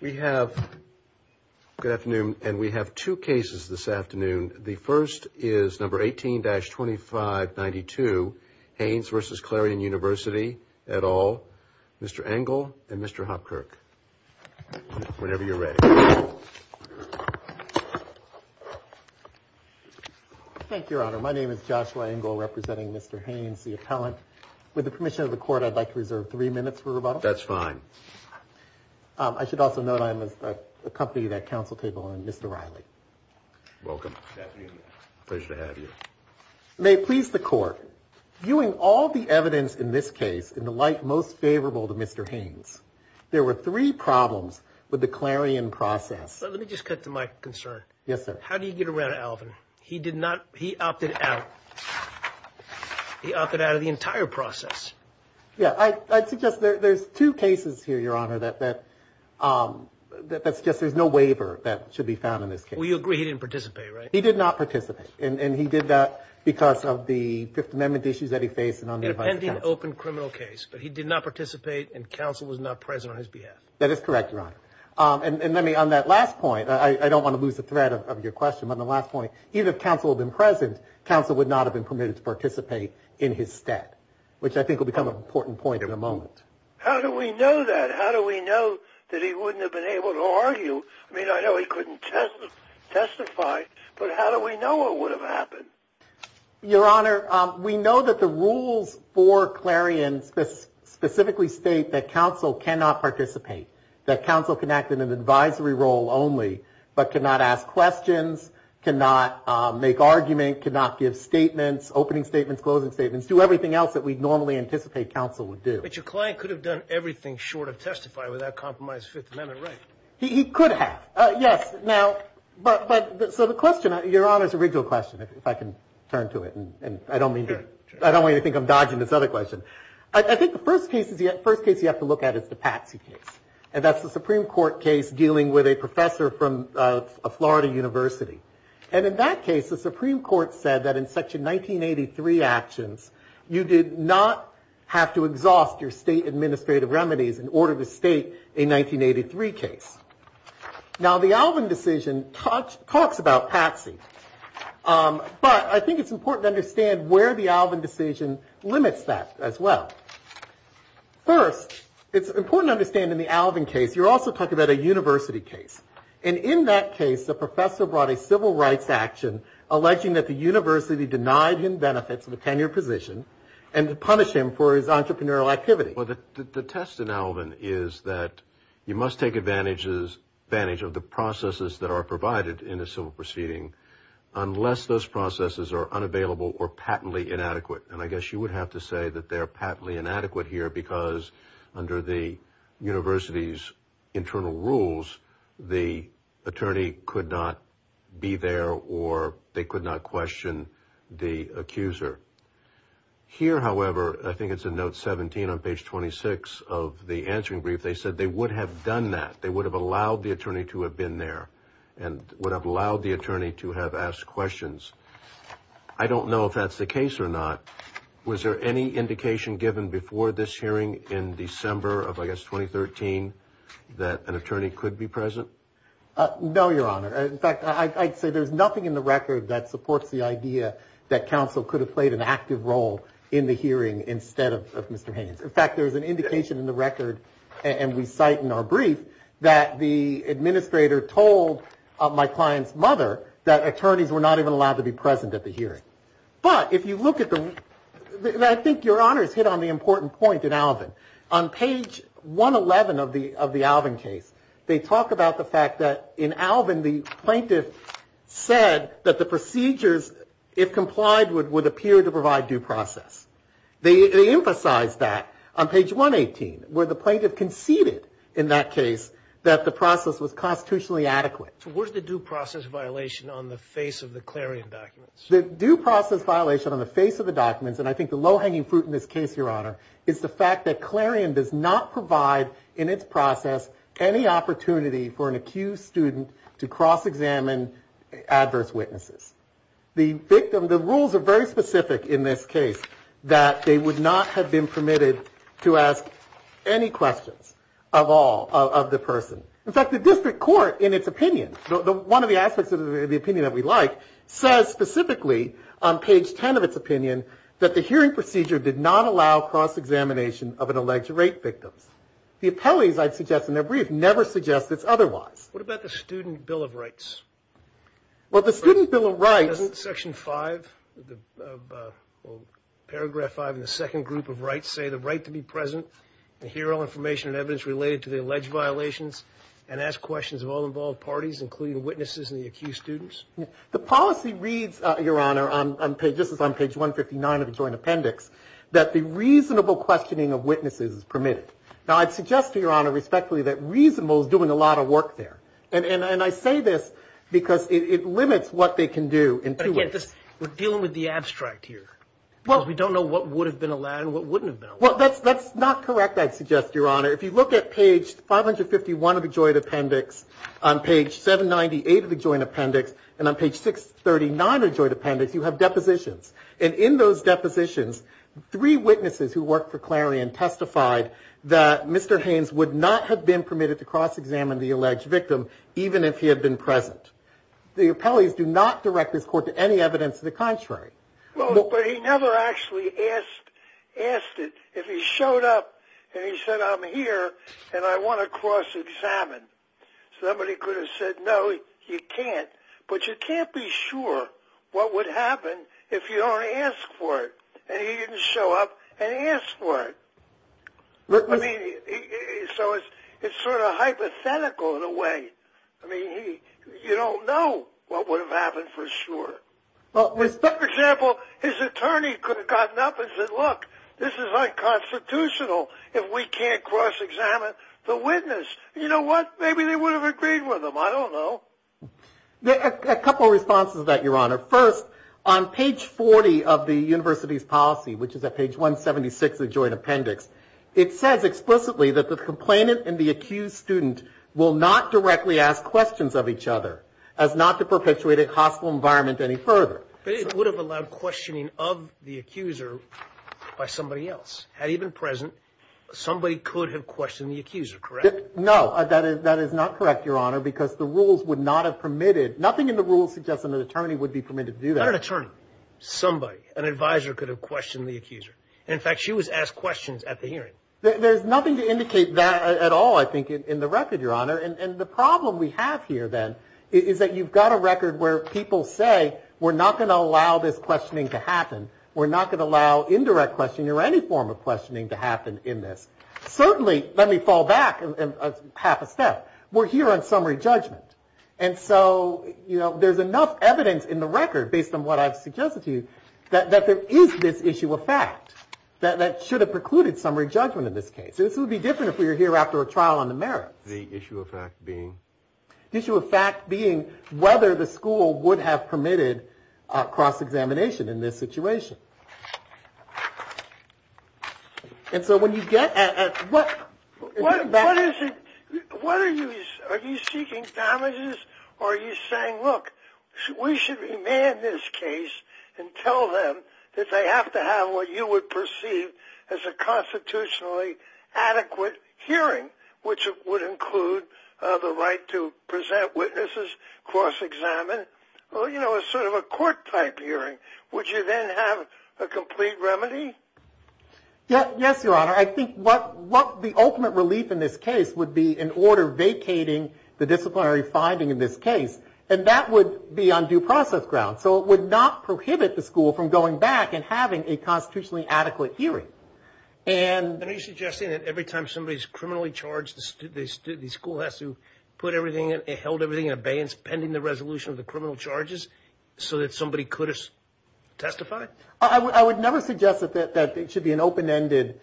We have, good afternoon, and we have two cases this afternoon. The first is number 18-2592, Haynes v. Clarion University, et al., Mr. Engel and Mr. Hopkirk. Whenever you're ready. Thank you, Your Honor. My name is Joshua Engel, representing Mr. Haynes, the appellant. With the permission of the court, I'd like to reserve three minutes for rebuttal. That's fine. I should also note I'm accompanied at counsel table on Mr. Riley. Welcome. Good afternoon. Pleasure to have you. May it please the court, viewing all the evidence in this case in the light most favorable to Mr. Haynes, there were three problems with the Clarion process. Let me just cut to my concern. Yes, sir. How do you get around Alvin? He opted out. He opted out of the entire process. Yeah, I'd suggest there's two cases here, Your Honor, that suggest there's no waiver that should be found in this case. I don't want to lose the thread of your question, but on the last point, even if counsel had been present, counsel would not have been permitted to participate in his stead, which I think will become an important point in a moment. How do we know that? How do we know that he wouldn't have been able to argue? I mean, I know he couldn't testify, but how do we know it would have happened? Your Honor, we know that the rules for Clarion specifically state that counsel cannot participate, that counsel can act in an advisory role only, but cannot ask questions, cannot make argument, cannot give statements, opening statements, closing statements, do everything else that we'd normally anticipate counsel would do. But your client could have done everything short of testify without compromised Fifth Amendment rights. He could have. Yes. Now, but so the question, Your Honor's original question, if I can turn to it, and I don't want you to think I'm dodging this other question, I think the first case you have to look at is the Patsy case, and that's the Supreme Court case dealing with a professor from a Florida university. And in that case, the Supreme Court said that in Section 1983 actions, you did not have to exhaust your state administrative remedies in order to state a 1983 case. Now, the Alvin decision talks about Patsy, but I think it's important to understand where the Alvin decision limits that as well. First, it's important to understand in the Alvin case, you're also talking about a university case. And in that case, the professor brought a civil rights action alleging that the university denied him benefits of a tenured position and punished him for his entrepreneurial activity. Well, the test in Alvin is that you must take advantage of the processes that are provided in a civil proceeding unless those processes are unavailable or patently inadequate. And I guess you would have to say that they're patently inadequate here because under the university's internal rules, the attorney could not be there or they could not question the accuser. Here, however, I think it's a note 17 on page 26 of the answering brief. They said they would have done that. They would have allowed the attorney to have been there and would have allowed the attorney to have asked questions. I don't know if that's the case or not. Was there any indication given before this hearing in December of 2013 that an attorney could be present? No, Your Honor. In fact, I'd say there's nothing in the record that supports the idea that counsel could have played an active role in the hearing instead of Mr. Haynes. In fact, there's an indication in the record and we cite in our brief that the administrator told my client's mother that attorneys were not even allowed to be present at the hearing. But if you look at the, I think Your Honor's hit on the important point in Alvin. On page 111 of the Alvin case, they talk about the fact that in Alvin the plaintiff said that the procedures, if complied, would appear to provide due process. They emphasize that on page 118 where the plaintiff conceded in that case that the process was constitutionally adequate. So where's the due process violation on the face of the clarion documents? The due process violation on the face of the documents, and I think the low hanging fruit in this case, Your Honor, is the fact that clarion does not provide in its process any opportunity for an accused student to cross examine adverse witnesses. The victim, the rules are very specific in this case that they would not have been permitted to ask any questions of all of the person. In fact, the district court, in its opinion, one of the aspects of the opinion that we like, says specifically on page 10 of its opinion that the hearing procedure did not allow cross examination of an alleged rape victim. The appellees, I'd suggest in their brief, never suggest it's otherwise. What about the student bill of rights? Well, the student bill of rights. Section 5 of paragraph 5 in the second group of rights say the right to be present and hear all information and evidence related to the alleged violations and ask questions of all involved parties, including witnesses and the accused students. The policy reads, Your Honor, just as on page 159 of the joint appendix, that the reasonable questioning of witnesses is permitted. Now, I'd suggest to Your Honor respectfully that reasonable is doing a lot of work there. And I say this because it limits what they can do. But again, we're dealing with the abstract here. We don't know what would have been allowed and what wouldn't have been allowed. Well, that's not correct, I'd suggest, Your Honor. If you look at page 551 of the joint appendix, on page 798 of the joint appendix, and on page 639 of the joint appendix, you have depositions. And in those depositions, three witnesses who worked for Clarion testified that Mr. Haynes would not have been permitted to cross-examine the alleged victim, even if he had been present. The appellees do not direct this court to any evidence of the contrary. Well, but he never actually asked it. If he showed up and he said, I'm here and I want to cross-examine, somebody could have said, no, you can't. But you can't be sure what would happen if you don't ask for it. And he didn't show up and ask for it. So it's sort of hypothetical in a way. I mean, you don't know what would have happened for sure. For example, his attorney could have gotten up and said, look, this is unconstitutional if we can't cross-examine the witness. You know what? Maybe they would have agreed with him. I don't know. A couple of responses to that, Your Honor. First, on page 40 of the university's policy, which is at page 176 of the joint appendix, it says explicitly that the complainant and the accused student will not directly ask questions of each other as not to perpetuate a hostile environment any further. But it would have allowed questioning of the accuser by somebody else. Had he been present, somebody could have questioned the accuser, correct? No, that is not correct, Your Honor, because the rules would not have permitted, nothing in the rules suggests an attorney would be permitted to do that. Not an attorney, somebody, an advisor could have questioned the accuser. In fact, she was asked questions at the hearing. There's nothing to indicate that at all, I think, in the record, Your Honor. And the problem we have here, then, is that you've got a record where people say, we're not going to allow this questioning to happen. We're not going to allow indirect questioning or any form of questioning to happen in this. Certainly, let me fall back half a step. We're here on summary judgment. And so, you know, there's enough evidence in the record, based on what I've suggested to you, that there is this issue of fact that should have precluded summary judgment in this case. This would be different if we were here after a trial on the merits. The issue of fact being? The issue of fact being whether the school would have permitted cross-examination in this situation. And so when you get at what? What is it? What are you? Are you seeking damages? Or are you saying, look, we should remand this case and tell them that they have to have what you would perceive as a constitutionally adequate hearing, which would include the right to present witnesses, cross-examine. Well, you know, it's sort of a court-type hearing. Would you then have a complete remedy? Yes, Your Honor. I think what the ultimate relief in this case would be in order vacating the disciplinary finding in this case, and that would be on due process grounds. So it would not prohibit the school from going back and having a constitutionally adequate hearing. And are you suggesting that every time somebody is criminally charged, the school has to put everything in, held everything in abeyance pending the resolution of the criminal charges so that somebody could testify? I would never suggest that it should be an open-ended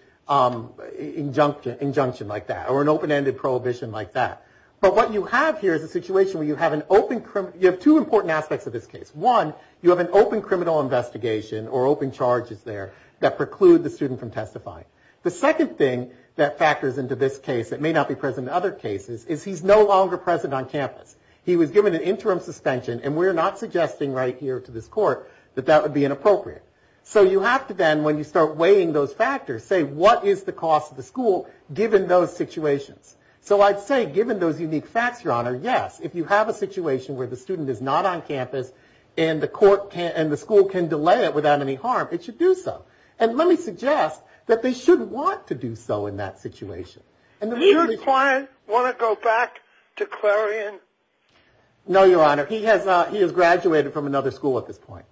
injunction like that, or an open-ended prohibition like that. But what you have here is a situation where you have an open, you have two important aspects of this case. One, you have an open criminal investigation or open charges there that preclude the student from testifying. The second thing that factors into this case that may not be present in other cases is he's no longer present on campus. He was given an interim suspension, and we're not suggesting right here to this court that that would be inappropriate. So you have to then, when you start weighing those factors, say, what is the cost of the school given those situations? So I'd say given those unique facts, Your Honor, yes, if you have a situation where the student is not on campus and the school can delay it without any harm, it should do so. And let me suggest that they should want to do so in that situation. Does your client want to go back to Clarion? No, Your Honor. He has graduated from another school at this point.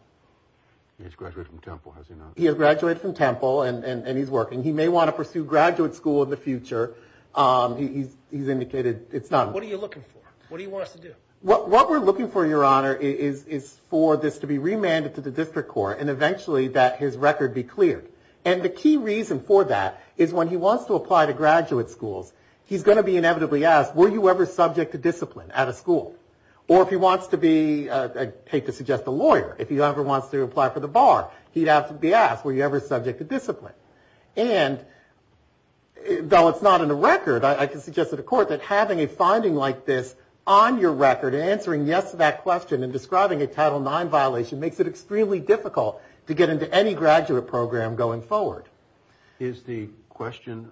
He has graduated from Temple, has he not? He has graduated from Temple, and he's working. He may want to pursue graduate school in the future. He's indicated it's not. What are you looking for? What do you want us to do? What we're looking for, Your Honor, is for this to be remanded to the district court and eventually that his record be cleared. And the key reason for that is when he wants to apply to graduate schools, he's going to be inevitably asked, were you ever subject to discipline at a school? Or if he wants to be, I hate to suggest, a lawyer, if he ever wants to apply for the bar, he'd have to be asked, were you ever subject to discipline? And though it's not in the record, I can suggest to the court that having a finding like this on your record and answering yes to that question and describing a Title IX violation makes it extremely difficult to get into any graduate program going forward. Is the question,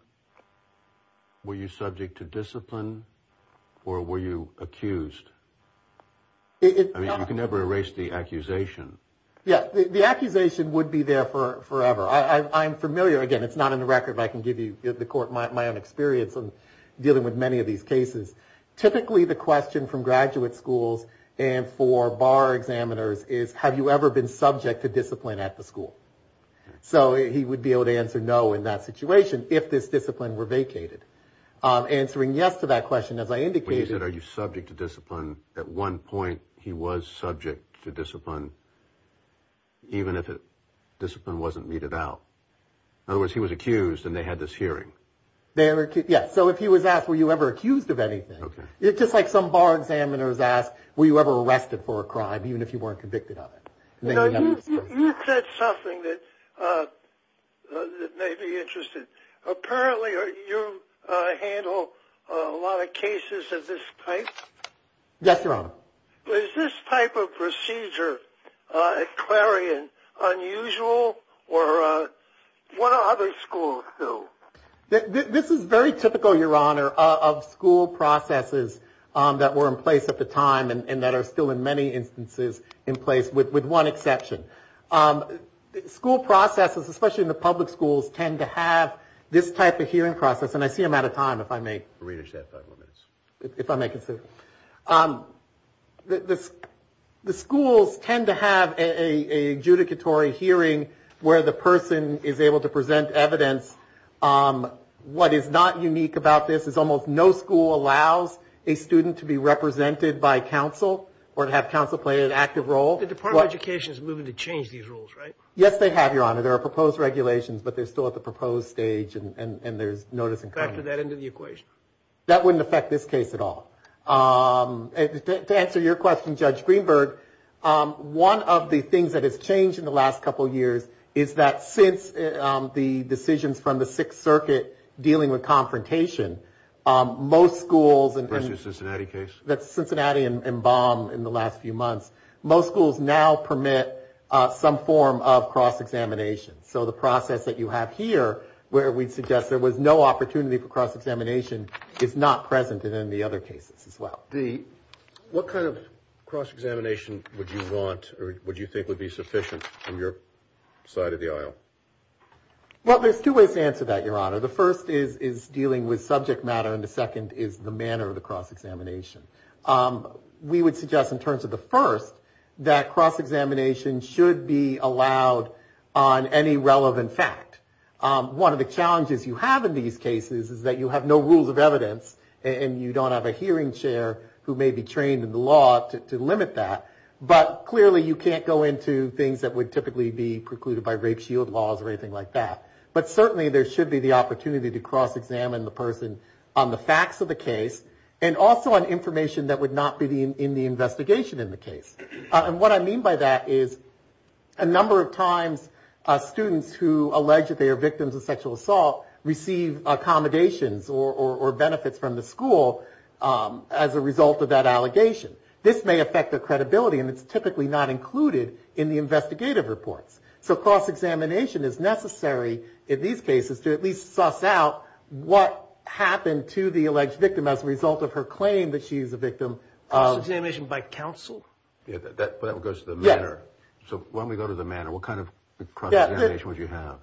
were you subject to discipline or were you accused? I mean, you can never erase the accusation. Yeah, the accusation would be there forever. I'm familiar, again, it's not in the record, but I can give you, the court, my own experience of dealing with many of these cases. Typically the question from graduate schools and for bar examiners is, have you ever been subject to discipline at the school? So he would be able to answer no in that situation if this discipline were vacated. Answering yes to that question, as I indicated. He said, are you subject to discipline? At one point he was subject to discipline, even if the discipline wasn't meted out. In other words, he was accused and they had this hearing. Yeah, so if he was asked, were you ever accused of anything? It's just like some bar examiners ask, were you ever arrested for a crime, even if you weren't convicted of it? You said something that may be interesting. Apparently you handle a lot of cases of this type? Yes, Your Honor. Is this type of procedure at Clarion unusual or what other schools do? This is very typical, Your Honor, of school processes that were in place at the time and that are still in many instances in place, with one exception. School processes, especially in the public schools, tend to have this type of hearing process. And I see I'm out of time, if I may. Readers have five more minutes. If I may continue. The schools tend to have an adjudicatory hearing where the person is able to present evidence. What is not unique about this is almost no school allows a student to be represented by counsel or to have counsel play an active role. The Department of Education is moving to change these rules, right? Yes, they have, Your Honor. There are proposed regulations, but they're still at the proposed stage and there's notice in coming. Factor that into the equation. That wouldn't affect this case at all. To answer your question, Judge Greenberg, one of the things that has changed in the last couple of years is that since the decisions from the Sixth Circuit dealing with confrontation, most schools... The Cincinnati case? That's Cincinnati and Baum in the last few months. Most schools now permit some form of cross-examination. So the process that you have here, where we suggest there was no opportunity for cross-examination, is not present in any other cases as well. What kind of cross-examination would you want or would you think would be sufficient from your side of the aisle? Well, there's two ways to answer that, Your Honor. The first is dealing with subject matter and the second is the manner of the cross-examination. We would suggest in terms of the first that cross-examination should be allowed on any relevant fact. One of the challenges you have in these cases is that you have no rules of evidence and you don't have a hearing chair who may be trained in the law to limit that, but clearly you can't go into things that would typically be precluded by rape shield laws or anything like that. But certainly there should be the opportunity to cross-examine the person on the facts of the case and also on information that would not be in the investigation in the case. And what I mean by that is a number of times students who allege that they are victims of sexual assault receive accommodations or benefits from the school as a result of that allegation. This may affect their credibility and it's typically not included in the investigative reports. So cross-examination is necessary in these cases to at least suss out what happened to the alleged victim as a result of her claim that she's a victim. Cross-examination by counsel? That goes to the manner. So when we go to the manner, what kind of cross-examination would you have?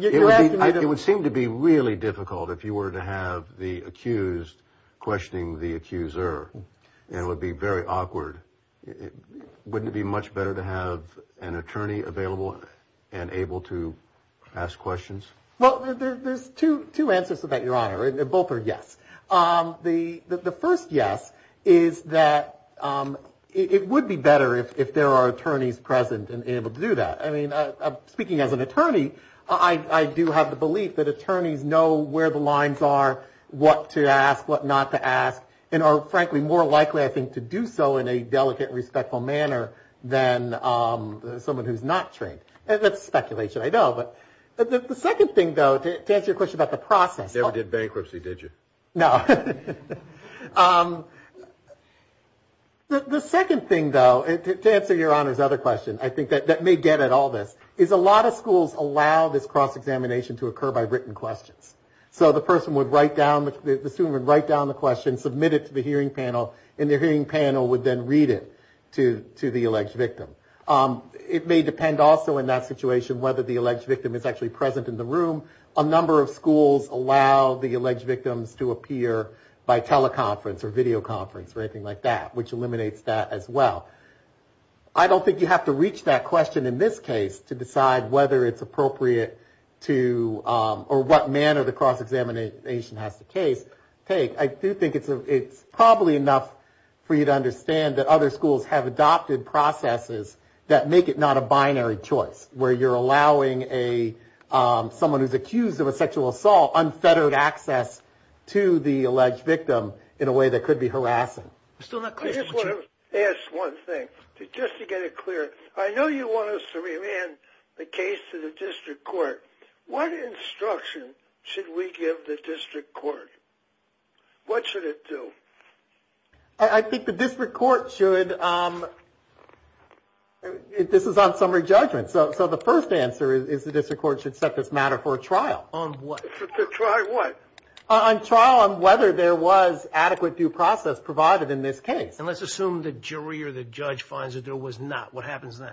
It would seem to be really difficult if you were to have the accused questioning the accuser. It would be very awkward. Wouldn't it be much better to have an attorney available and able to ask questions? Well, there's two answers to that, Your Honor. Both are yes. The first yes is that it would be better if there are attorneys present and able to do that. I mean, speaking as an attorney, I do have the belief that attorneys know where the lines are, what to ask, what not to ask, and are frankly more likely, I think, to do so in a delicate, respectful manner than someone who's not trained. That's speculation, I know, but the second thing, though, to answer your question about the process. You never did bankruptcy, did you? No. The second thing, though, to answer Your Honor's other question, I think, that may get at all this, is a lot of schools allow this cross-examination to occur by written questions. So the person would write down, the student would write down the question, submit it to the hearing panel, and the hearing panel would then read it to the alleged victim. It may depend also in that situation whether the alleged victim is actually present in the room. A number of schools allow the alleged victims to appear by teleconference or videoconference or anything like that, which eliminates that as well. I don't think you have to reach that question in this case to decide whether it's appropriate to, or what manner the cross-examination has to take. I do think it's probably enough for you to understand that other schools have adopted processes that make it not a binary choice, where you're allowing someone who's accused of a sexual assault unfettered access to the alleged victim in a way that could be harassing. I just want to ask one thing, just to get it clear. I know you want us to remand the case to the district court. What instruction should we give the district court? What should it do? I think the district court should, this is on summary judgment, so the first answer is the district court should set this matter for a trial. On what? To try what? On trial on whether there was adequate due process provided in this case. And let's assume the jury or the judge finds that there was not. What happens then?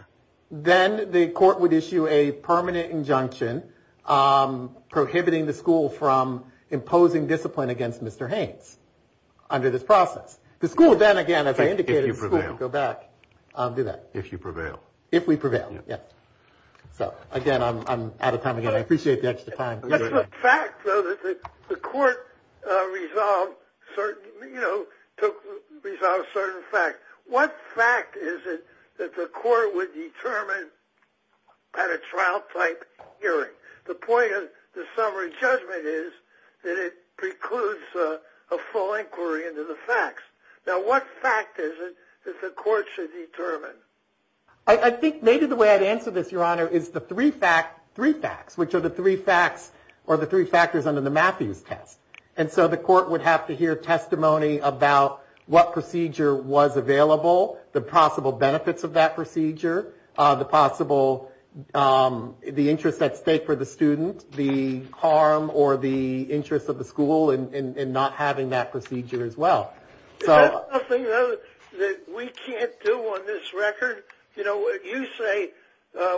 Then the court would issue a permanent injunction prohibiting the school from imposing discipline against Mr. Haynes under this process. The school then, again, as I indicated, the school would go back and do that. If you prevail. If we prevail, yes. So, again, I'm out of time again. I appreciate the extra time. That's the fact, though, that the court resolved certain, you know, resolved certain facts. What fact is it that the court would determine at a trial-type hearing? The point of the summary judgment is that it precludes a full inquiry into the facts. Now, what fact is it that the court should determine? I think maybe the way I'd answer this, Your Honor, is the three facts, which are the three facts or the three factors under the Matthews test. And so the court would have to hear testimony about what procedure was available, the possible benefits of that procedure, the possible the interest at stake for the student, the harm or the interest of the school in not having that procedure as well. Is that something, though, that we can't do on this record? You know, you say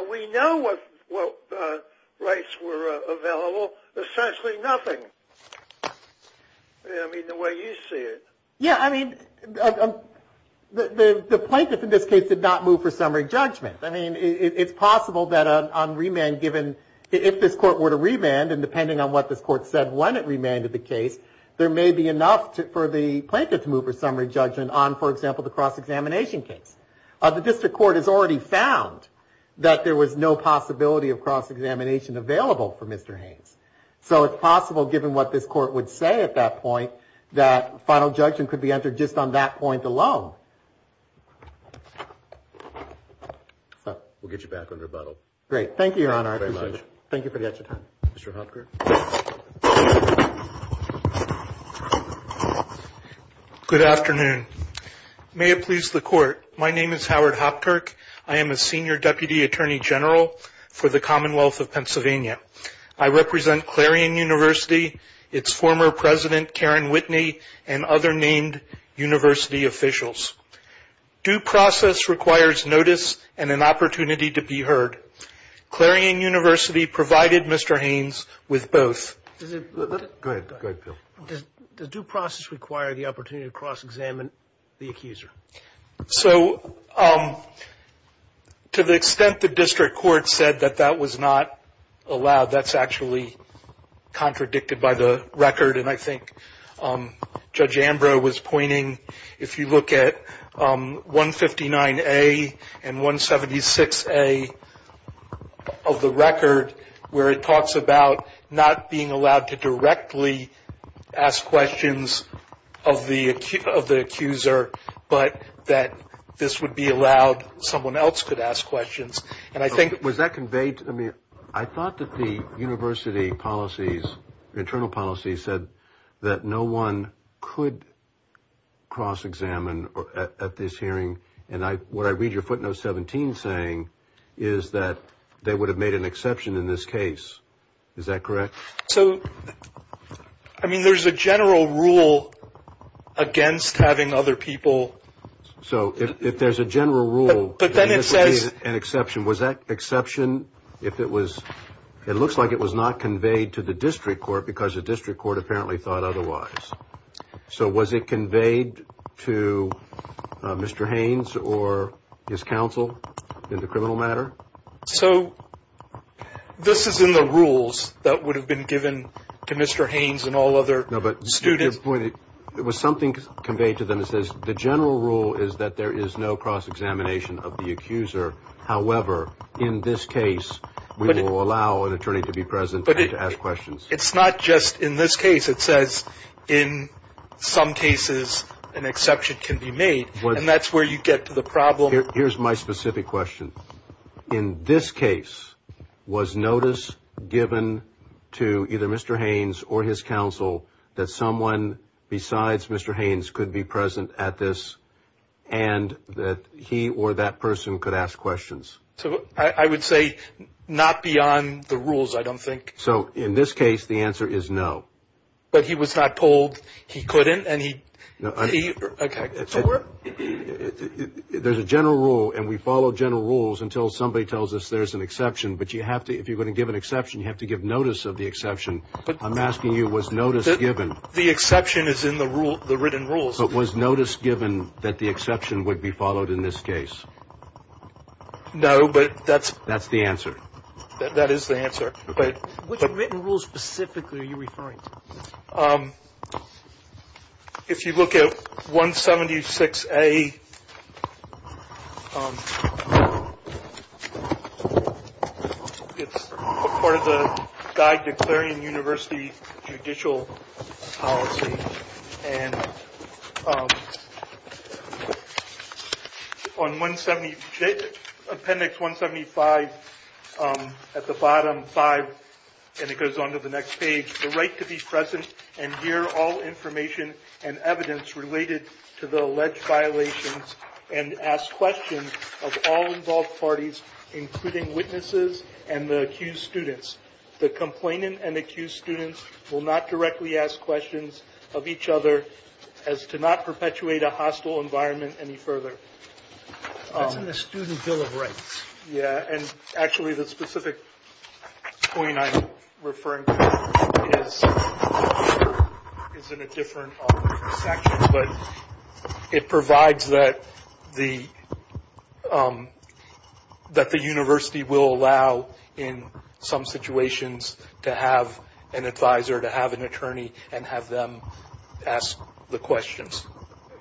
we know what rights were available. Essentially nothing. I mean, the way you see it. Yeah, I mean, the plaintiff in this case did not move for summary judgment. I mean, it's possible that on remand given, if this court were to remand, and depending on what this court said when it remanded the case, there may be enough for the plaintiff to move for summary judgment on, for example, the cross-examination case. The district court has already found that there was no possibility of cross-examination available for Mr. Haynes. So it's possible, given what this court would say at that point, that final judgment could be entered just on that point alone. We'll get you back on rebuttal. Great. Thank you, Your Honor. I appreciate it. Thank you for your time. Mr. Hopker. Good afternoon. May it please the Court. My name is Howard Hopker. I am a senior deputy attorney general for the Commonwealth of Pennsylvania. I represent Clarion University, its former president, Karen Whitney, and other named university officials. Due process requires notice and an opportunity to be heard. Clarion University provided Mr. Haynes with both. Go ahead. Go ahead, Bill. Does due process require the opportunity to cross-examine the accuser? So to the extent the district court said that that was not allowed, that's actually contradicted by the record. And I think Judge Ambrose was pointing, if you look at 159A and 176A of the record, where it talks about not being allowed to directly ask questions of the accuser, but that this would be allowed, someone else could ask questions. Was that conveyed? I thought that the university policies, internal policies, said that no one could cross-examine at this hearing. And what I read your footnote 17 saying is that they would have made an exception in this case. Is that correct? So, I mean, there's a general rule against having other people. So if there's a general rule that this would be an exception, was that exception if it was – it looks like it was not conveyed to the district court because the district court apparently thought otherwise. So was it conveyed to Mr. Haynes or his counsel in the criminal matter? So this is in the rules that would have been given to Mr. Haynes and all other students. No, but to your point, it was something conveyed to them that says, the general rule is that there is no cross-examination of the accuser. However, in this case, we will allow an attorney to be present and to ask questions. But it's not just in this case. It says in some cases an exception can be made, and that's where you get to the problem. Here's my specific question. In this case, was notice given to either Mr. Haynes or his counsel that someone besides Mr. Haynes could be present at this and that he or that person could ask questions? I would say not beyond the rules, I don't think. So in this case, the answer is no. But he was not told he couldn't and he – There's a general rule, and we follow general rules until somebody tells us there's an exception. But you have to – if you're going to give an exception, you have to give notice of the exception. I'm asking you, was notice given – The exception is in the written rules. But was notice given that the exception would be followed in this case? No, but that's – That's the answer. That is the answer. Which written rules specifically are you referring to? If you look at 176A, it's part of the guide to clearing university judicial policy. And on 170 – appendix 175, at the bottom, 5, and it goes on to the next page, the right to be present and hear all information and evidence related to the alleged violations and ask questions of all involved parties, including witnesses and the accused students. The complainant and accused students will not directly ask questions of each other as to not perpetuate a hostile environment any further. That's in the Student Bill of Rights. Yeah, and actually the specific point I'm referring to is in a different section, but it provides that the university will allow in some situations to have an advisor, to have an attorney, and have them ask the questions.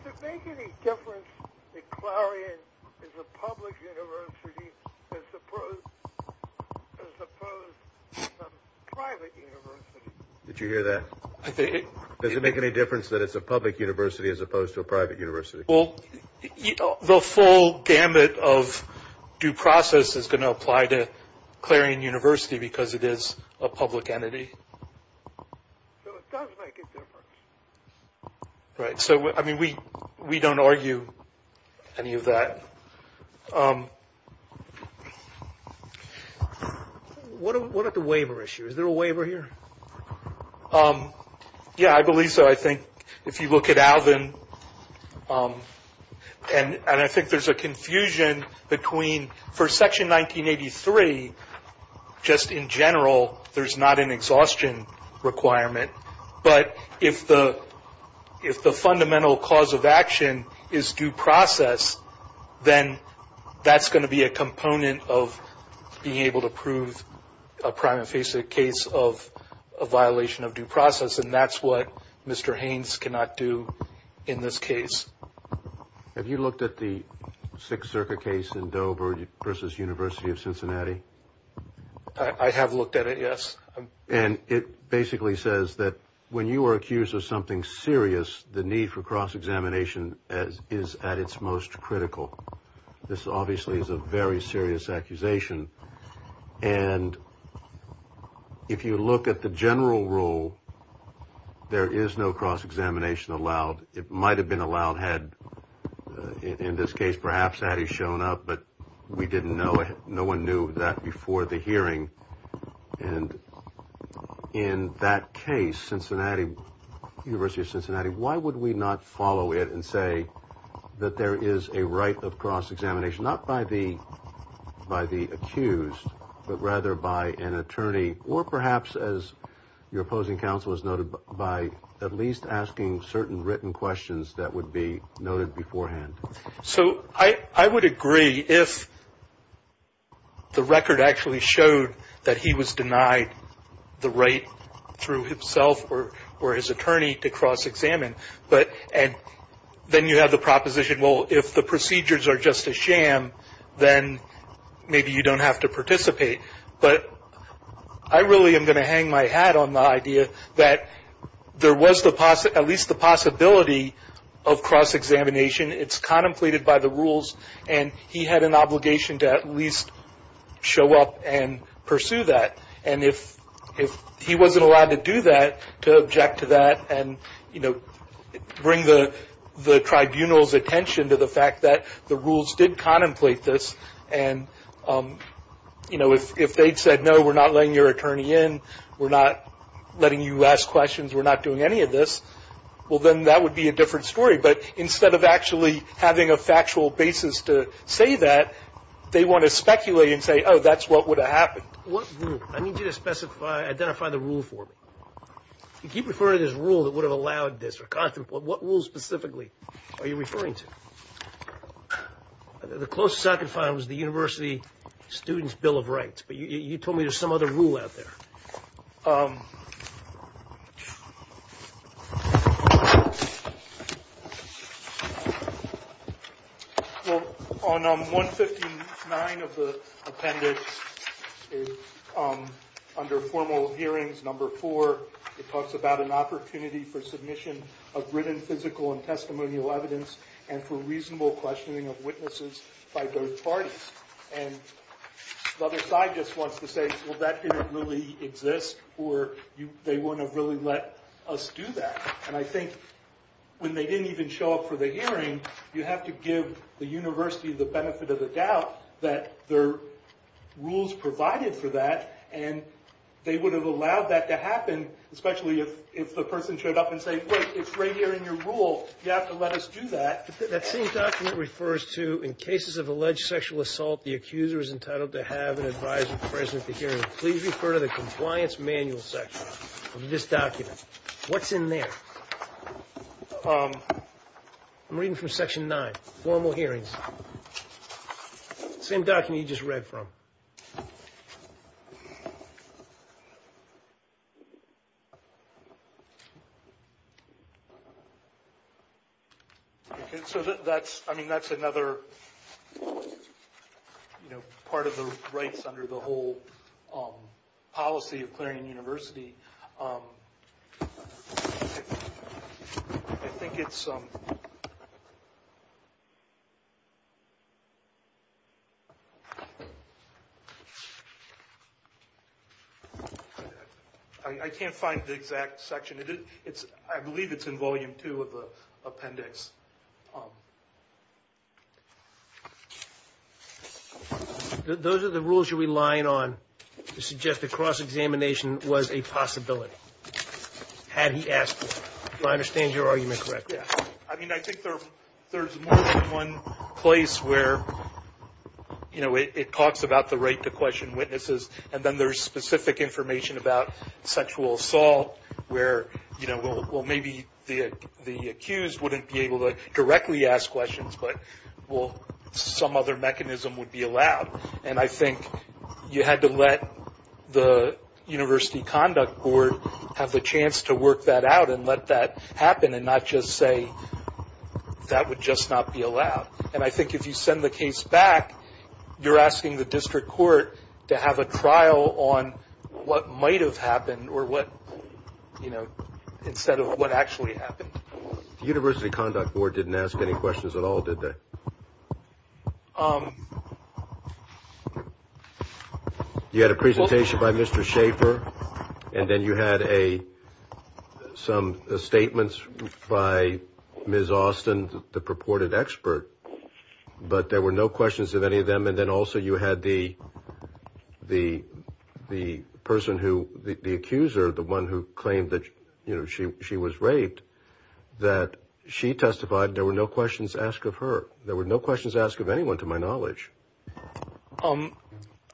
Does it make any difference that Clarion is a public university as opposed to a private university? Did you hear that? Does it make any difference that it's a public university as opposed to a private university? Well, the full gamut of due process is going to apply to Clarion University because it is a public entity. So it does make a difference. Right. So, I mean, we don't argue any of that. What about the waiver issue? Is there a waiver here? Yeah, I believe so. I think if you look at Alvin, and I think there's a confusion between for Section 1983, just in general, there's not an exhaustion requirement. But if the fundamental cause of action is due process, then that's going to be a component of being able to prove a prime and face it case of a violation of due process. And that's what Mr. Haynes cannot do in this case. Have you looked at the Sixth Circuit case in Dover versus University of Cincinnati? I have looked at it, yes. And it basically says that when you are accused of something serious, the need for cross-examination is at its most critical. This obviously is a very serious accusation. And if you look at the general rule, there is no cross-examination allowed. It might have been allowed had, in this case, perhaps had he shown up, but no one knew that before the hearing. And in that case, University of Cincinnati, why would we not follow it and say that there is a right of cross-examination, not by the accused, but rather by an attorney, or perhaps as your opposing counsel has noted, by at least asking certain written questions that would be noted beforehand? So I would agree if the record actually showed that he was denied the right through himself or his attorney to cross-examine. But then you have the proposition, well, if the procedures are just a sham, then maybe you don't have to participate. But I really am going to hang my hat on the idea that there was at least the possibility of cross-examination. It's contemplated by the rules, and he had an obligation to at least show up and pursue that. And if he wasn't allowed to do that, to object to that, and bring the tribunal's attention to the fact that the rules did contemplate this, and if they'd said, no, we're not letting your attorney in, we're not letting you ask questions, we're not doing any of this, well, then that would be a different story. But instead of actually having a factual basis to say that, they want to speculate and say, oh, that's what would have happened. What rule? I need you to specify, identify the rule for me. You keep referring to this rule that would have allowed this or contemplated it. What rule specifically are you referring to? The closest I could find was the University Students' Bill of Rights, but you told me there's some other rule out there. Well, on 159 of the appendix, under formal hearings number 4, it talks about an opportunity for submission of written, physical, and testimonial evidence and for reasonable questioning of witnesses by both parties. And the other side just wants to say, well, that didn't really exist, or they wouldn't have really let us do that. And I think when they didn't even show up for the hearing, you have to give the university the benefit of the doubt that the rules provided for that, and they would have allowed that to happen, especially if the person showed up and said, wait, it's right here in your rule. You have to let us do that. That same document refers to, in cases of alleged sexual assault, the accuser is entitled to have an advisor present at the hearing. Please refer to the compliance manual section of this document. What's in there? I'm reading from Section 9, formal hearings. Same document you just read from. So that's another part of the rights under the whole policy of clearing a university. I think it's – I can't find the exact section. I believe it's in Volume 2 of the appendix. Those are the rules you're relying on to suggest that cross-examination was a possibility had he asked for it. Do I understand your argument correctly? Yeah. I mean, I think there's more than one place where, you know, it talks about the right to question witnesses, and then there's specific information about sexual assault where, you know, well, maybe the accused wouldn't be able to directly ask questions, but, well, some other mechanism would be allowed. And I think you had to let the University Conduct Board have the chance to work that out and let that happen and not just say that would just not be allowed. And I think if you send the case back, you're asking the district court to have a trial on what might have happened or what, you know, instead of what actually happened. The University Conduct Board didn't ask any questions at all, did they? You had a presentation by Mr. Schaefer, and then you had some statements by Ms. Austin, the purported expert, but there were no questions of any of them. And then also you had the person who, the accuser, the one who claimed that, you know, she was raped, that she testified. There were no questions asked of her. There were no questions asked of anyone, to my knowledge.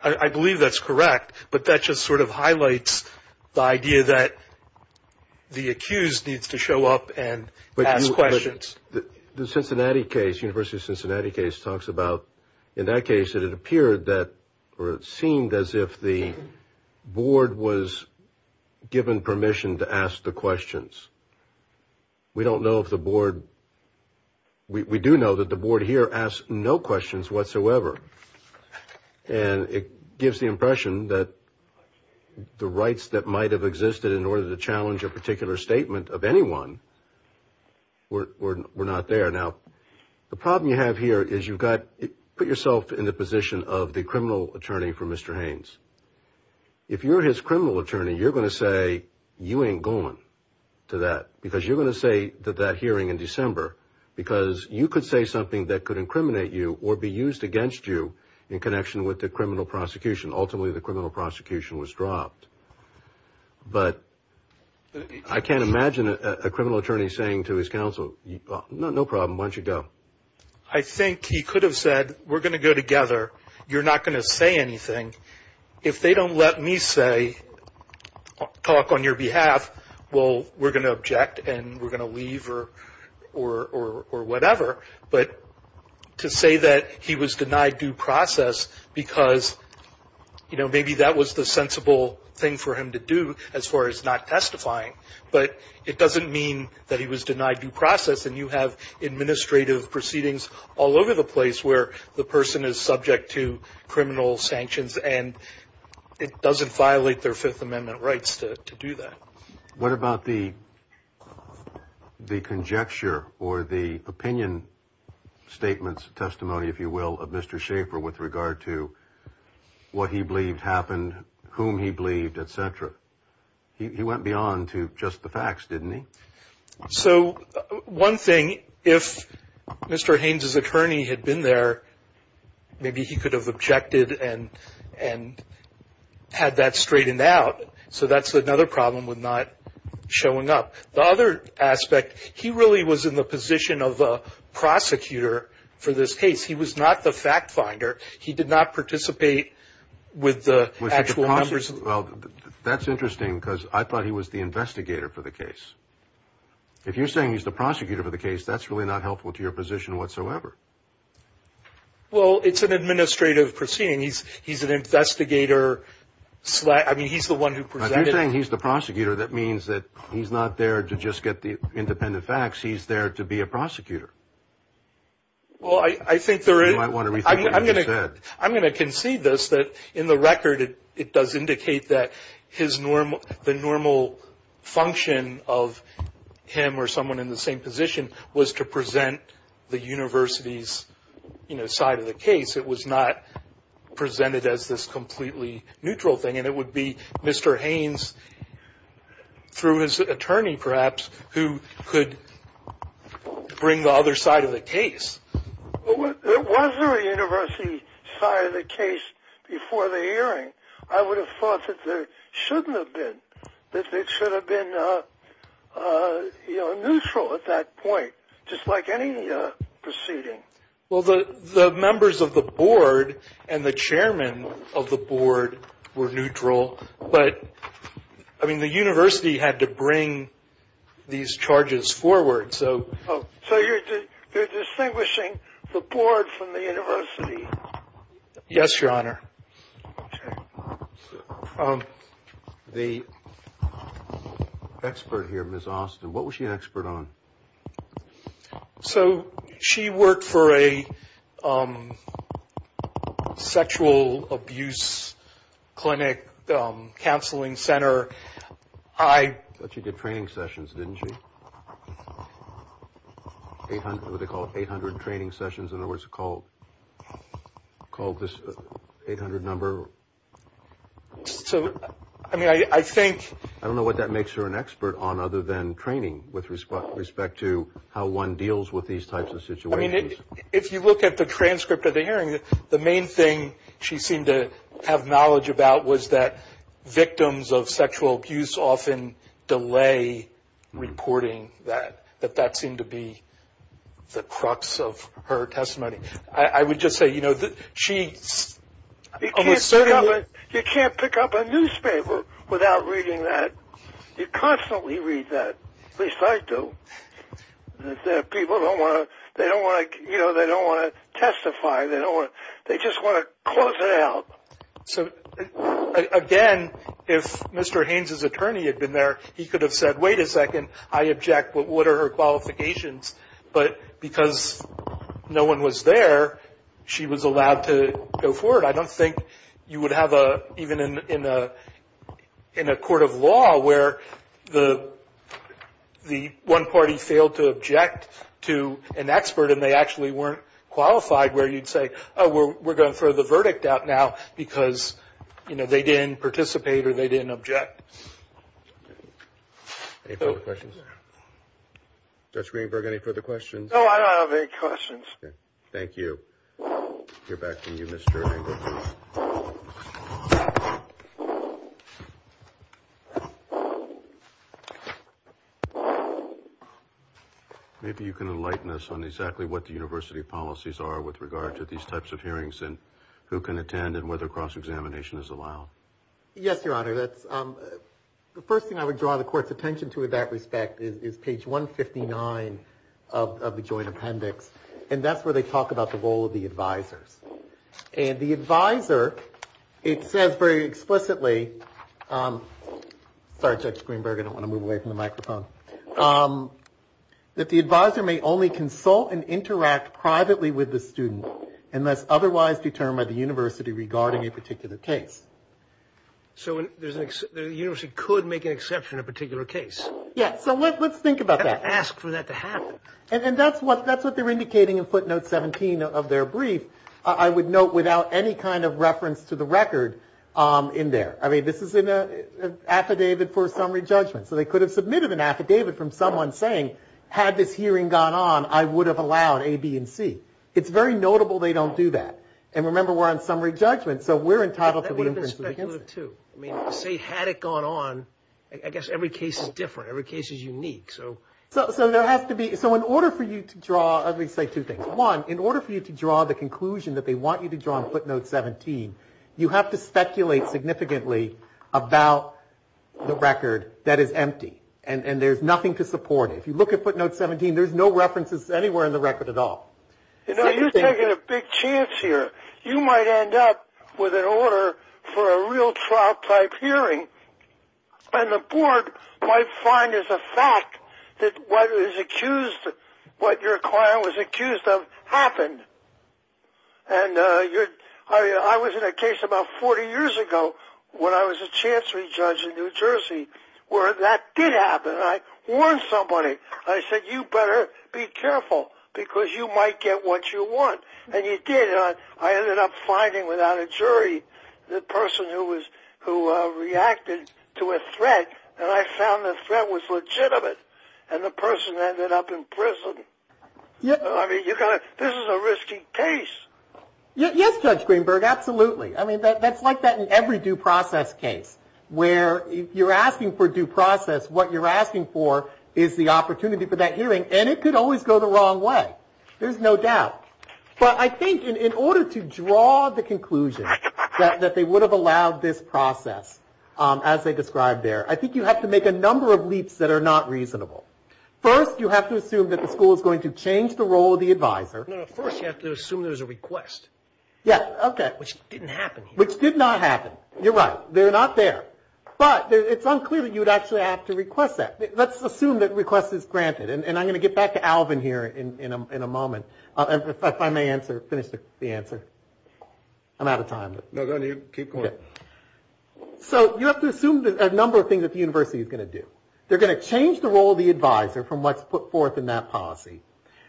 I believe that's correct, but that just sort of highlights the idea that the accused needs to show up and ask questions. The Cincinnati case, the University of Cincinnati case, talks about in that case that it appeared that, or it seemed as if the board was given permission to ask the questions. We don't know if the board, we do know that the board here asked no questions whatsoever, and it gives the impression that the rights that might have existed in order to challenge a particular statement of anyone were not there. Now, the problem you have here is you've got, put yourself in the position of the criminal attorney for Mr. Haynes. If you're his criminal attorney, you're going to say you ain't going to that, because you're going to say that hearing in December, because you could say something that could incriminate you or be used against you in connection with the criminal prosecution. Ultimately, the criminal prosecution was dropped. But I can't imagine a criminal attorney saying to his counsel, no problem, why don't you go. I think he could have said, we're going to go together, you're not going to say anything. If they don't let me say, talk on your behalf, well, we're going to object and we're going to leave or whatever. But to say that he was denied due process because, you know, maybe that was the sensible thing for him to do as far as not testifying. But it doesn't mean that he was denied due process and you have administrative proceedings all over the place where the person is subject to criminal sanctions and it doesn't violate their Fifth Amendment rights to do that. What about the conjecture or the opinion statements, testimony, if you will, of Mr. Schaefer with regard to what he believed happened, whom he believed, et cetera? He went beyond to just the facts, didn't he? So one thing, if Mr. Haynes' attorney had been there, maybe he could have objected and had that straightened out. So that's another problem with not showing up. The other aspect, he really was in the position of a prosecutor for this case. He was not the fact finder. He did not participate with the actual members. Well, that's interesting because I thought he was the investigator for the case. If you're saying he's the prosecutor for the case, that's really not helpful to your position whatsoever. Well, it's an administrative proceeding. He's an investigator. I mean, he's the one who presented. If you're saying he's the prosecutor, that means that he's not there to just get the independent facts. He's there to be a prosecutor. Well, I think there is – You might want to rethink what you just said. I'm going to concede this, that in the record, it does indicate that the normal function of him or someone in the same position was to present the university's side of the case. It was not presented as this completely neutral thing. And it would be Mr. Haynes, through his attorney perhaps, who could bring the other side of the case. Was there a university side of the case before the hearing? I would have thought that there shouldn't have been, that it should have been neutral at that point, just like any proceeding. Well, the members of the board and the chairman of the board were neutral, but, I mean, the university had to bring these charges forward. So you're distinguishing the board from the university? Yes, Your Honor. Okay. The expert here, Ms. Austin, what was she an expert on? So she worked for a sexual abuse clinic counseling center. I thought she did training sessions, didn't she? What do they call it, 800 training sessions? In other words, called this 800 number? So, I mean, I think – other than training with respect to how one deals with these types of situations. I mean, if you look at the transcript of the hearing, the main thing she seemed to have knowledge about was that victims of sexual abuse often delay reporting that, that that seemed to be the crux of her testimony. I would just say, you know, she – You can't pick up a newspaper without reading that. You constantly read that, at least I do. People don't want to – they don't want to testify. They just want to close it out. So, again, if Mr. Haynes' attorney had been there, he could have said, wait a second, I object, what are her qualifications? But because no one was there, she was allowed to go forward. I don't think you would have a – even in a court of law where the one party failed to object to an expert and they actually weren't qualified where you'd say, oh, we're going to throw the verdict out now because, you know, they didn't participate or they didn't object. Any further questions? Judge Greenberg, any further questions? No, I don't have any questions. Thank you. I'll get back to you, Mr. Engle. Maybe you can enlighten us on exactly what the university policies are with regard to these types of hearings and who can attend and whether cross-examination is allowed. Yes, Your Honor. The first thing I would draw the court's attention to in that respect is page 159 of the joint appendix, and that's where they talk about the role of the advisors. And the advisor, it says very explicitly – sorry, Judge Greenberg, I don't want to move away from the microphone – that the advisor may only consult and interact privately with the student unless otherwise determined by the university regarding a particular case. So the university could make an exception in a particular case. Yes. So let's think about that. And ask for that to happen. And that's what they're indicating in footnote 17 of their brief, I would note, without any kind of reference to the record in there. I mean, this is an affidavit for a summary judgment. So they could have submitted an affidavit from someone saying, had this hearing gone on, I would have allowed A, B, and C. It's very notable they don't do that. And remember, we're on summary judgment, so we're entitled to the inference against it. That would have been speculative too. I mean, say had it gone on, I guess every case is different. Every case is unique. So there has to be – so in order for you to draw – let me say two things. One, in order for you to draw the conclusion that they want you to draw in footnote 17, you have to speculate significantly about the record that is empty. And there's nothing to support it. If you look at footnote 17, there's no references anywhere in the record at all. You're taking a big chance here. You might end up with an order for a real trial-type hearing. And the board might find as a fact that what was accused – what your client was accused of happened. And I was in a case about 40 years ago when I was a chancery judge in New Jersey where that did happen. I warned somebody. I said, you better be careful because you might get what you want. And you did. And I ended up finding without a jury the person who reacted to a threat. And I found the threat was legitimate. And the person ended up in prison. I mean, this is a risky case. Yes, Judge Greenberg, absolutely. I mean, that's like that in every due process case where if you're asking for due process, what you're asking for is the opportunity for that hearing. And it could always go the wrong way. There's no doubt. But I think in order to draw the conclusion that they would have allowed this process, as they described there, I think you have to make a number of leaps that are not reasonable. First, you have to assume that the school is going to change the role of the advisor. No, no, first you have to assume there's a request. Yeah, okay. Which didn't happen here. Which did not happen. You're right. They're not there. But it's unclear that you would actually have to request that. Let's assume that request is granted. And I'm going to get back to Alvin here in a moment. If I may answer, finish the answer. I'm out of time. No, go ahead. Keep going. So you have to assume a number of things that the university is going to do. They're going to change the role of the advisor from what's put forth in that policy.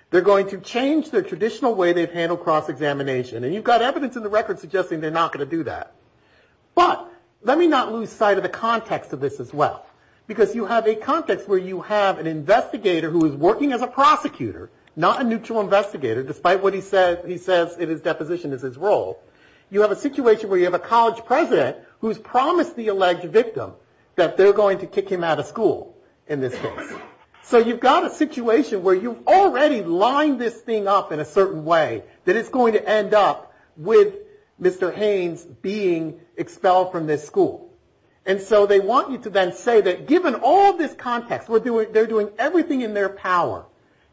They're going to change the traditional way they've handled cross-examination. And you've got evidence in the record suggesting they're not going to do that. But let me not lose sight of the context of this as well. Because you have a context where you have an investigator who is working as a prosecutor, not a neutral investigator, despite what he says in his deposition is his role. You have a situation where you have a college president who's promised the alleged victim that they're going to kick him out of school in this case. So you've got a situation where you've already lined this thing up in a certain way, that it's going to end up with Mr. Haynes being expelled from this school. And so they want you to then say that given all this context, they're doing everything in their power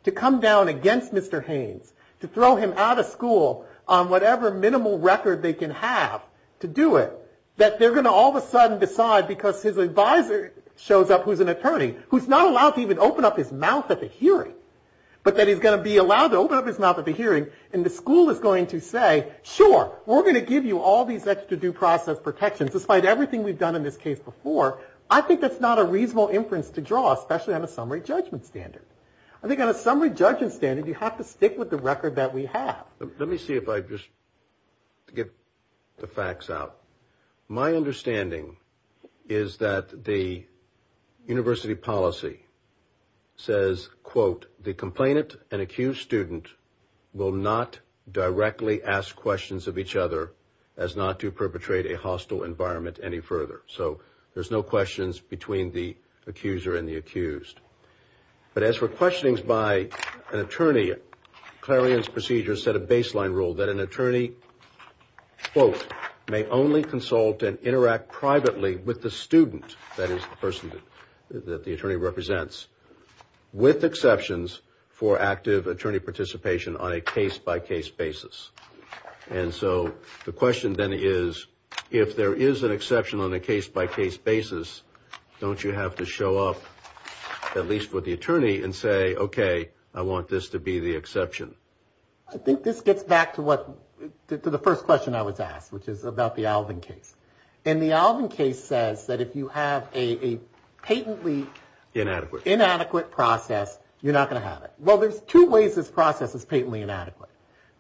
to come down against Mr. Haynes, to throw him out of school on whatever minimal record they can have to do it, that they're going to all of a sudden decide, because his advisor shows up who's an attorney, who's not allowed to even open up his mouth at the hearing, but that he's going to be allowed to open up his mouth at the hearing, and the school is going to say, sure, we're going to give you all these extra due process protections, despite everything we've done in this case before. I think that's not a reasonable inference to draw, especially on a summary judgment standard. I think on a summary judgment standard, you have to stick with the record that we have. Let me see if I just get the facts out. My understanding is that the university policy says, quote, the complainant and accused student will not directly ask questions of each other as not to perpetrate a hostile environment any further. So there's no questions between the accuser and the accused. But as for questionings by an attorney, Clarion's procedure set a baseline rule that an attorney, quote, may only consult and interact privately with the student, that is the person that the attorney represents, with exceptions for active attorney participation on a case-by-case basis. And so the question then is, if there is an exception on a case-by-case basis, don't you have to show up, at least for the attorney, and say, okay, I want this to be the exception? I think this gets back to the first question I was asked, which is about the Alvin case. And the Alvin case says that if you have a patently inadequate process, you're not going to have it. Well, there's two ways this process is patently inadequate.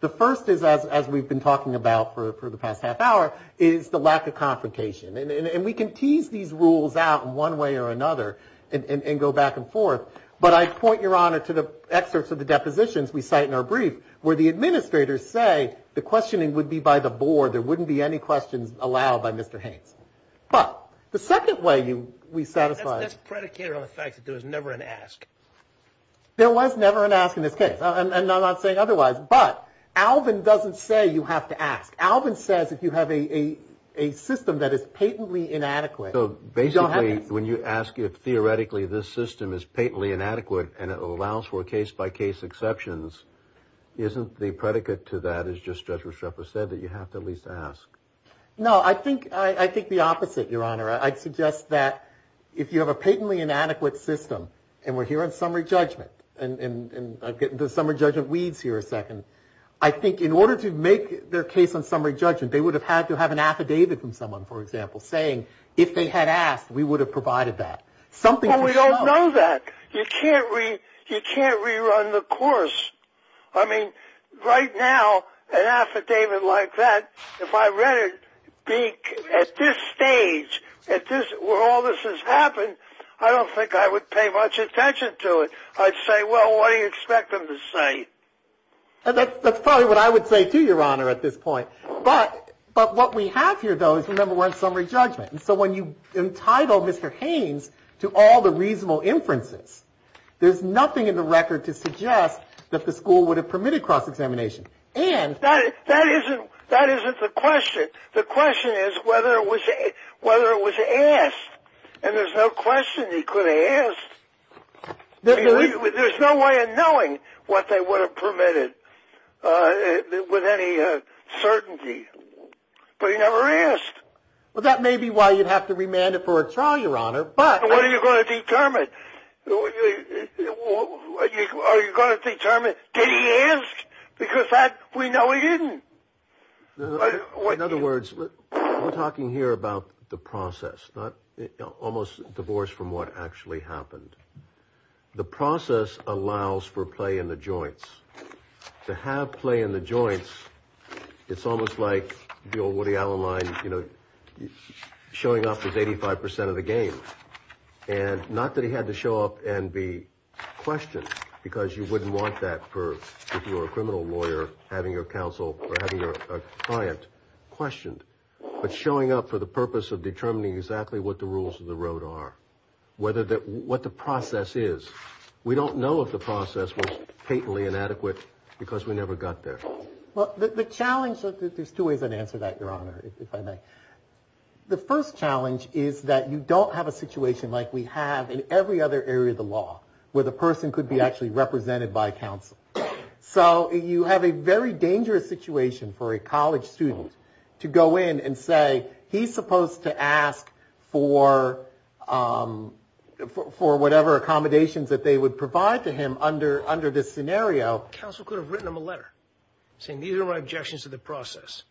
The first is, as we've been talking about for the past half hour, is the lack of confrontation. And we can tease these rules out in one way or another and go back and forth, but I point, Your Honor, to the excerpts of the depositions we cite in our brief where the administrators say the questioning would be by the board, there wouldn't be any questions allowed by Mr. Haynes. But the second way we satisfy the question. That's predicated on the fact that there was never an ask. There was never an ask in this case. And I'm not saying otherwise. But Alvin doesn't say you have to ask. Alvin says if you have a system that is patently inadequate, you don't have to ask. So basically, when you ask if theoretically this system is patently inadequate and it allows for case-by-case exceptions, isn't the predicate to that, as just Judge Rochefort said, that you have to at least ask? No, I think the opposite, Your Honor. I'd suggest that if you have a patently inadequate system, and we're here on summary judgment, and I'm getting to the summary judgment weeds here a second, I think in order to make their case on summary judgment, they would have had to have an affidavit from someone, for example, saying if they had asked, we would have provided that. Well, we don't know that. You can't rerun the course. I mean, right now, an affidavit like that, if I read it at this stage, where all this has happened, I don't think I would pay much attention to it. I'd say, well, what do you expect them to say? That's probably what I would say, too, Your Honor, at this point. But what we have here, though, is, remember, we're on summary judgment. So when you entitle Mr. Haynes to all the reasonable inferences, there's nothing in the record to suggest that the school would have permitted cross-examination. That isn't the question. The question is whether it was asked. And there's no question he could have asked. There's no way of knowing what they would have permitted with any certainty. But he never asked. Well, that may be why you'd have to remand it for a trial, Your Honor. But what are you going to determine? Are you going to determine, did he ask? Because we know he didn't. In other words, we're talking here about the process, almost divorced from what actually happened. The process allows for play in the joints. To have play in the joints, it's almost like the old Woody Allen line, you know, showing off his 85% of the game. And not that he had to show up and be questioned, because you wouldn't want that for, if you were a criminal lawyer, having your counsel or having your client questioned. But showing up for the purpose of determining exactly what the rules of the road are. What the process is. We don't know if the process was patently inadequate because we never got there. Well, the challenge, there's two ways I'd answer that, Your Honor, if I may. The first challenge is that you don't have a situation like we have in every other area of the law where the person could be actually represented by counsel. So you have a very dangerous situation for a college student to go in and say, he's supposed to ask for whatever accommodations that they would provide to him under this scenario. Counsel could have written him a letter saying these are my objections to the process.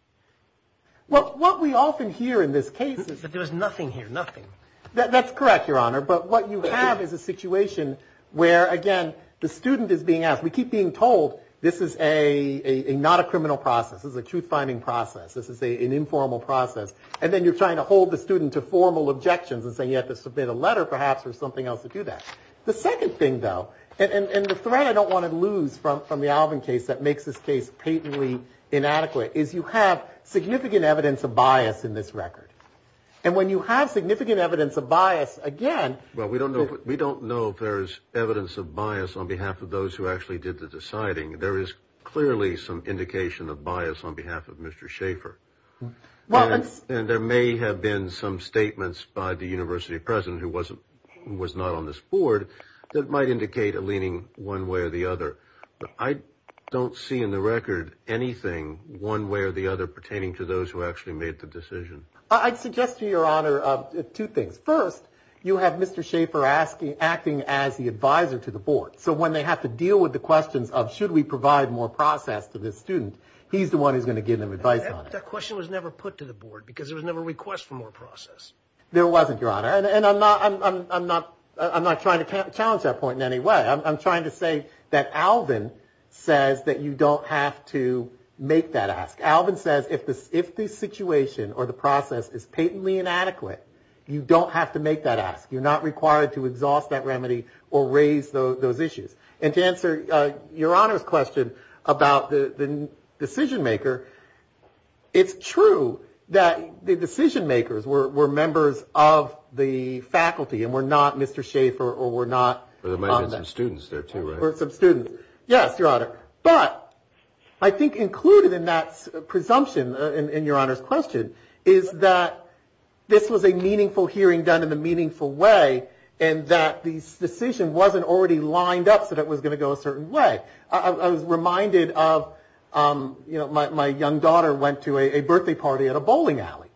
Well, what we often hear in this case is that there's nothing here, nothing. That's correct, Your Honor. But what you have is a situation where, again, the student is being asked. We keep being told this is not a criminal process. This is a truth-finding process. This is an informal process. And then you're trying to hold the student to formal objections and saying you have to submit a letter perhaps or something else to do that. The second thing, though, and the threat I don't want to lose from the Alvin case that makes this case patently inadequate is you have significant evidence of bias in this record. And when you have significant evidence of bias, again ‑‑ there is clearly some indication of bias on behalf of Mr. Schaefer. And there may have been some statements by the university president who was not on this board that might indicate a leaning one way or the other. I don't see in the record anything one way or the other pertaining to those who actually made the decision. I'd suggest to you, Your Honor, two things. First, you have Mr. Schaefer acting as the advisor to the board. So when they have to deal with the questions of should we provide more process to this student, he's the one who's going to give them advice on it. That question was never put to the board because there was never a request for more process. There wasn't, Your Honor. And I'm not trying to challenge that point in any way. I'm trying to say that Alvin says that you don't have to make that ask. Alvin says if the situation or the process is patently inadequate, you don't have to make that ask. You're not required to exhaust that remedy or raise those issues. And to answer Your Honor's question about the decision maker, it's true that the decision makers were members of the faculty and were not Mr. Schaefer or were not on that. There might have been some students there too, right? There were some students. Yes, Your Honor. But I think included in that presumption in Your Honor's question is that this was a meaningful hearing done in a meaningful way and that this decision wasn't already lined up so that it was going to go a certain way. I was reminded of, you know, my young daughter went to a birthday party at a bowling alley.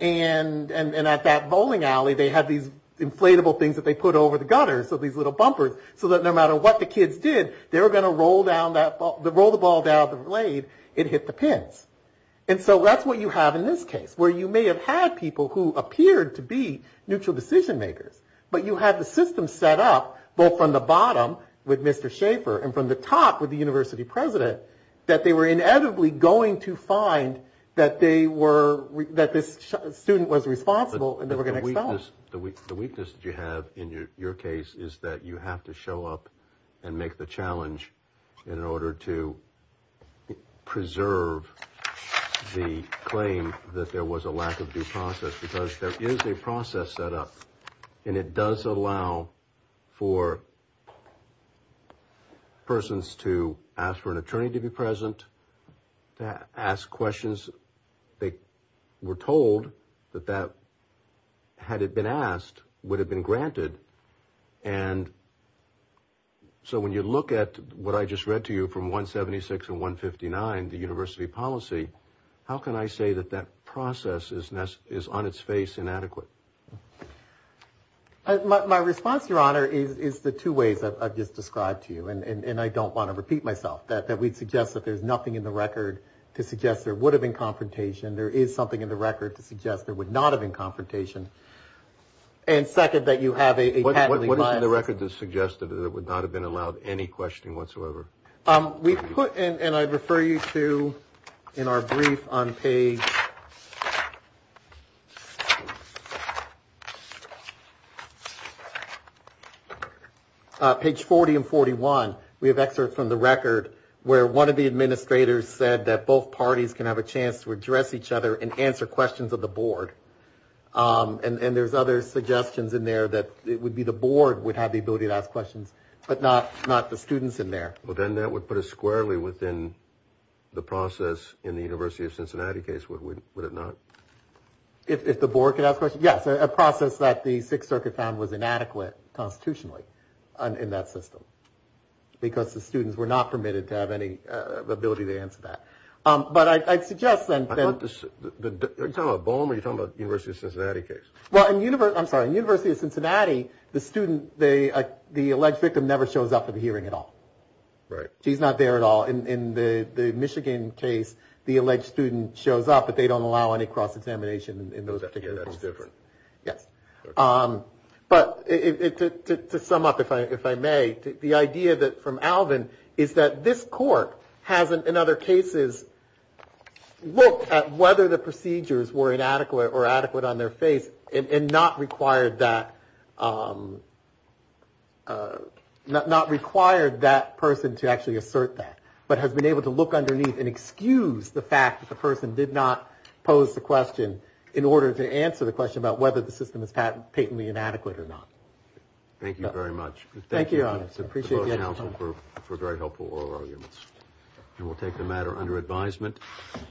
And at that bowling alley they had these inflatable things that they put over the gutters, so these little bumpers, so that no matter what the kids did, they were going to roll the ball down the blade, it hit the pins. And so that's what you have in this case, where you may have had people who appeared to be neutral decision makers, but you had the system set up both from the bottom with Mr. Schaefer and from the top with the university president, that they were inevitably going to find that they were that this student was responsible and they were going to expel. The weakness that you have in your case is that you have to show up and make the challenge in order to preserve the claim that there was a lack of due process, because there is a process set up and it does allow for persons to ask for an attorney to be present, to ask questions they were told that that, had it been asked, would have been granted. And so when you look at what I just read to you from 176 and 159, the university policy, how can I say that that process is on its face inadequate? My response, Your Honor, is the two ways I've just described to you, and I don't want to repeat myself, that we'd suggest that there's nothing in the record to suggest there would have been confrontation. There is something in the record to suggest there would not have been confrontation. And second, that you have a patent. What is in the record to suggest that it would not have been allowed any questioning whatsoever? We put, and I refer you to in our brief on page 40 and 41, we have excerpts from the record where one of the administrators said that both parties can have a chance to address each other and answer questions of the board. And there's other suggestions in there that it would be the board would have the ability to ask questions, but not the students in there. Well, then that would put us squarely within the process in the University of Cincinnati case, would it not? If the board could ask questions, yes. A process that the Sixth Circuit found was inadequate constitutionally in that system because the students were not permitted to have any ability to answer that. But I'd suggest then. Are you talking about Boehm or are you talking about the University of Cincinnati case? Well, I'm sorry. In the University of Cincinnati, the student, the alleged victim never shows up at a hearing at all. Right. She's not there at all. In the Michigan case, the alleged student shows up, but they don't allow any cross-examination in those particular cases. That's different. Yes. But to sum up, if I may, the idea that from Alvin is that this court hasn't in other cases looked at whether the procedures were inadequate or adequate on their face and not required that. Not required that person to actually assert that, but has been able to look underneath and excuse the fact that the person did not pose the question in order to answer the whether or not patently inadequate or not. Thank you very much. Thank you, Your Honor. I appreciate you taking the time. Thank you, counsel, for very helpful oral arguments. And we'll take the matter under advisement.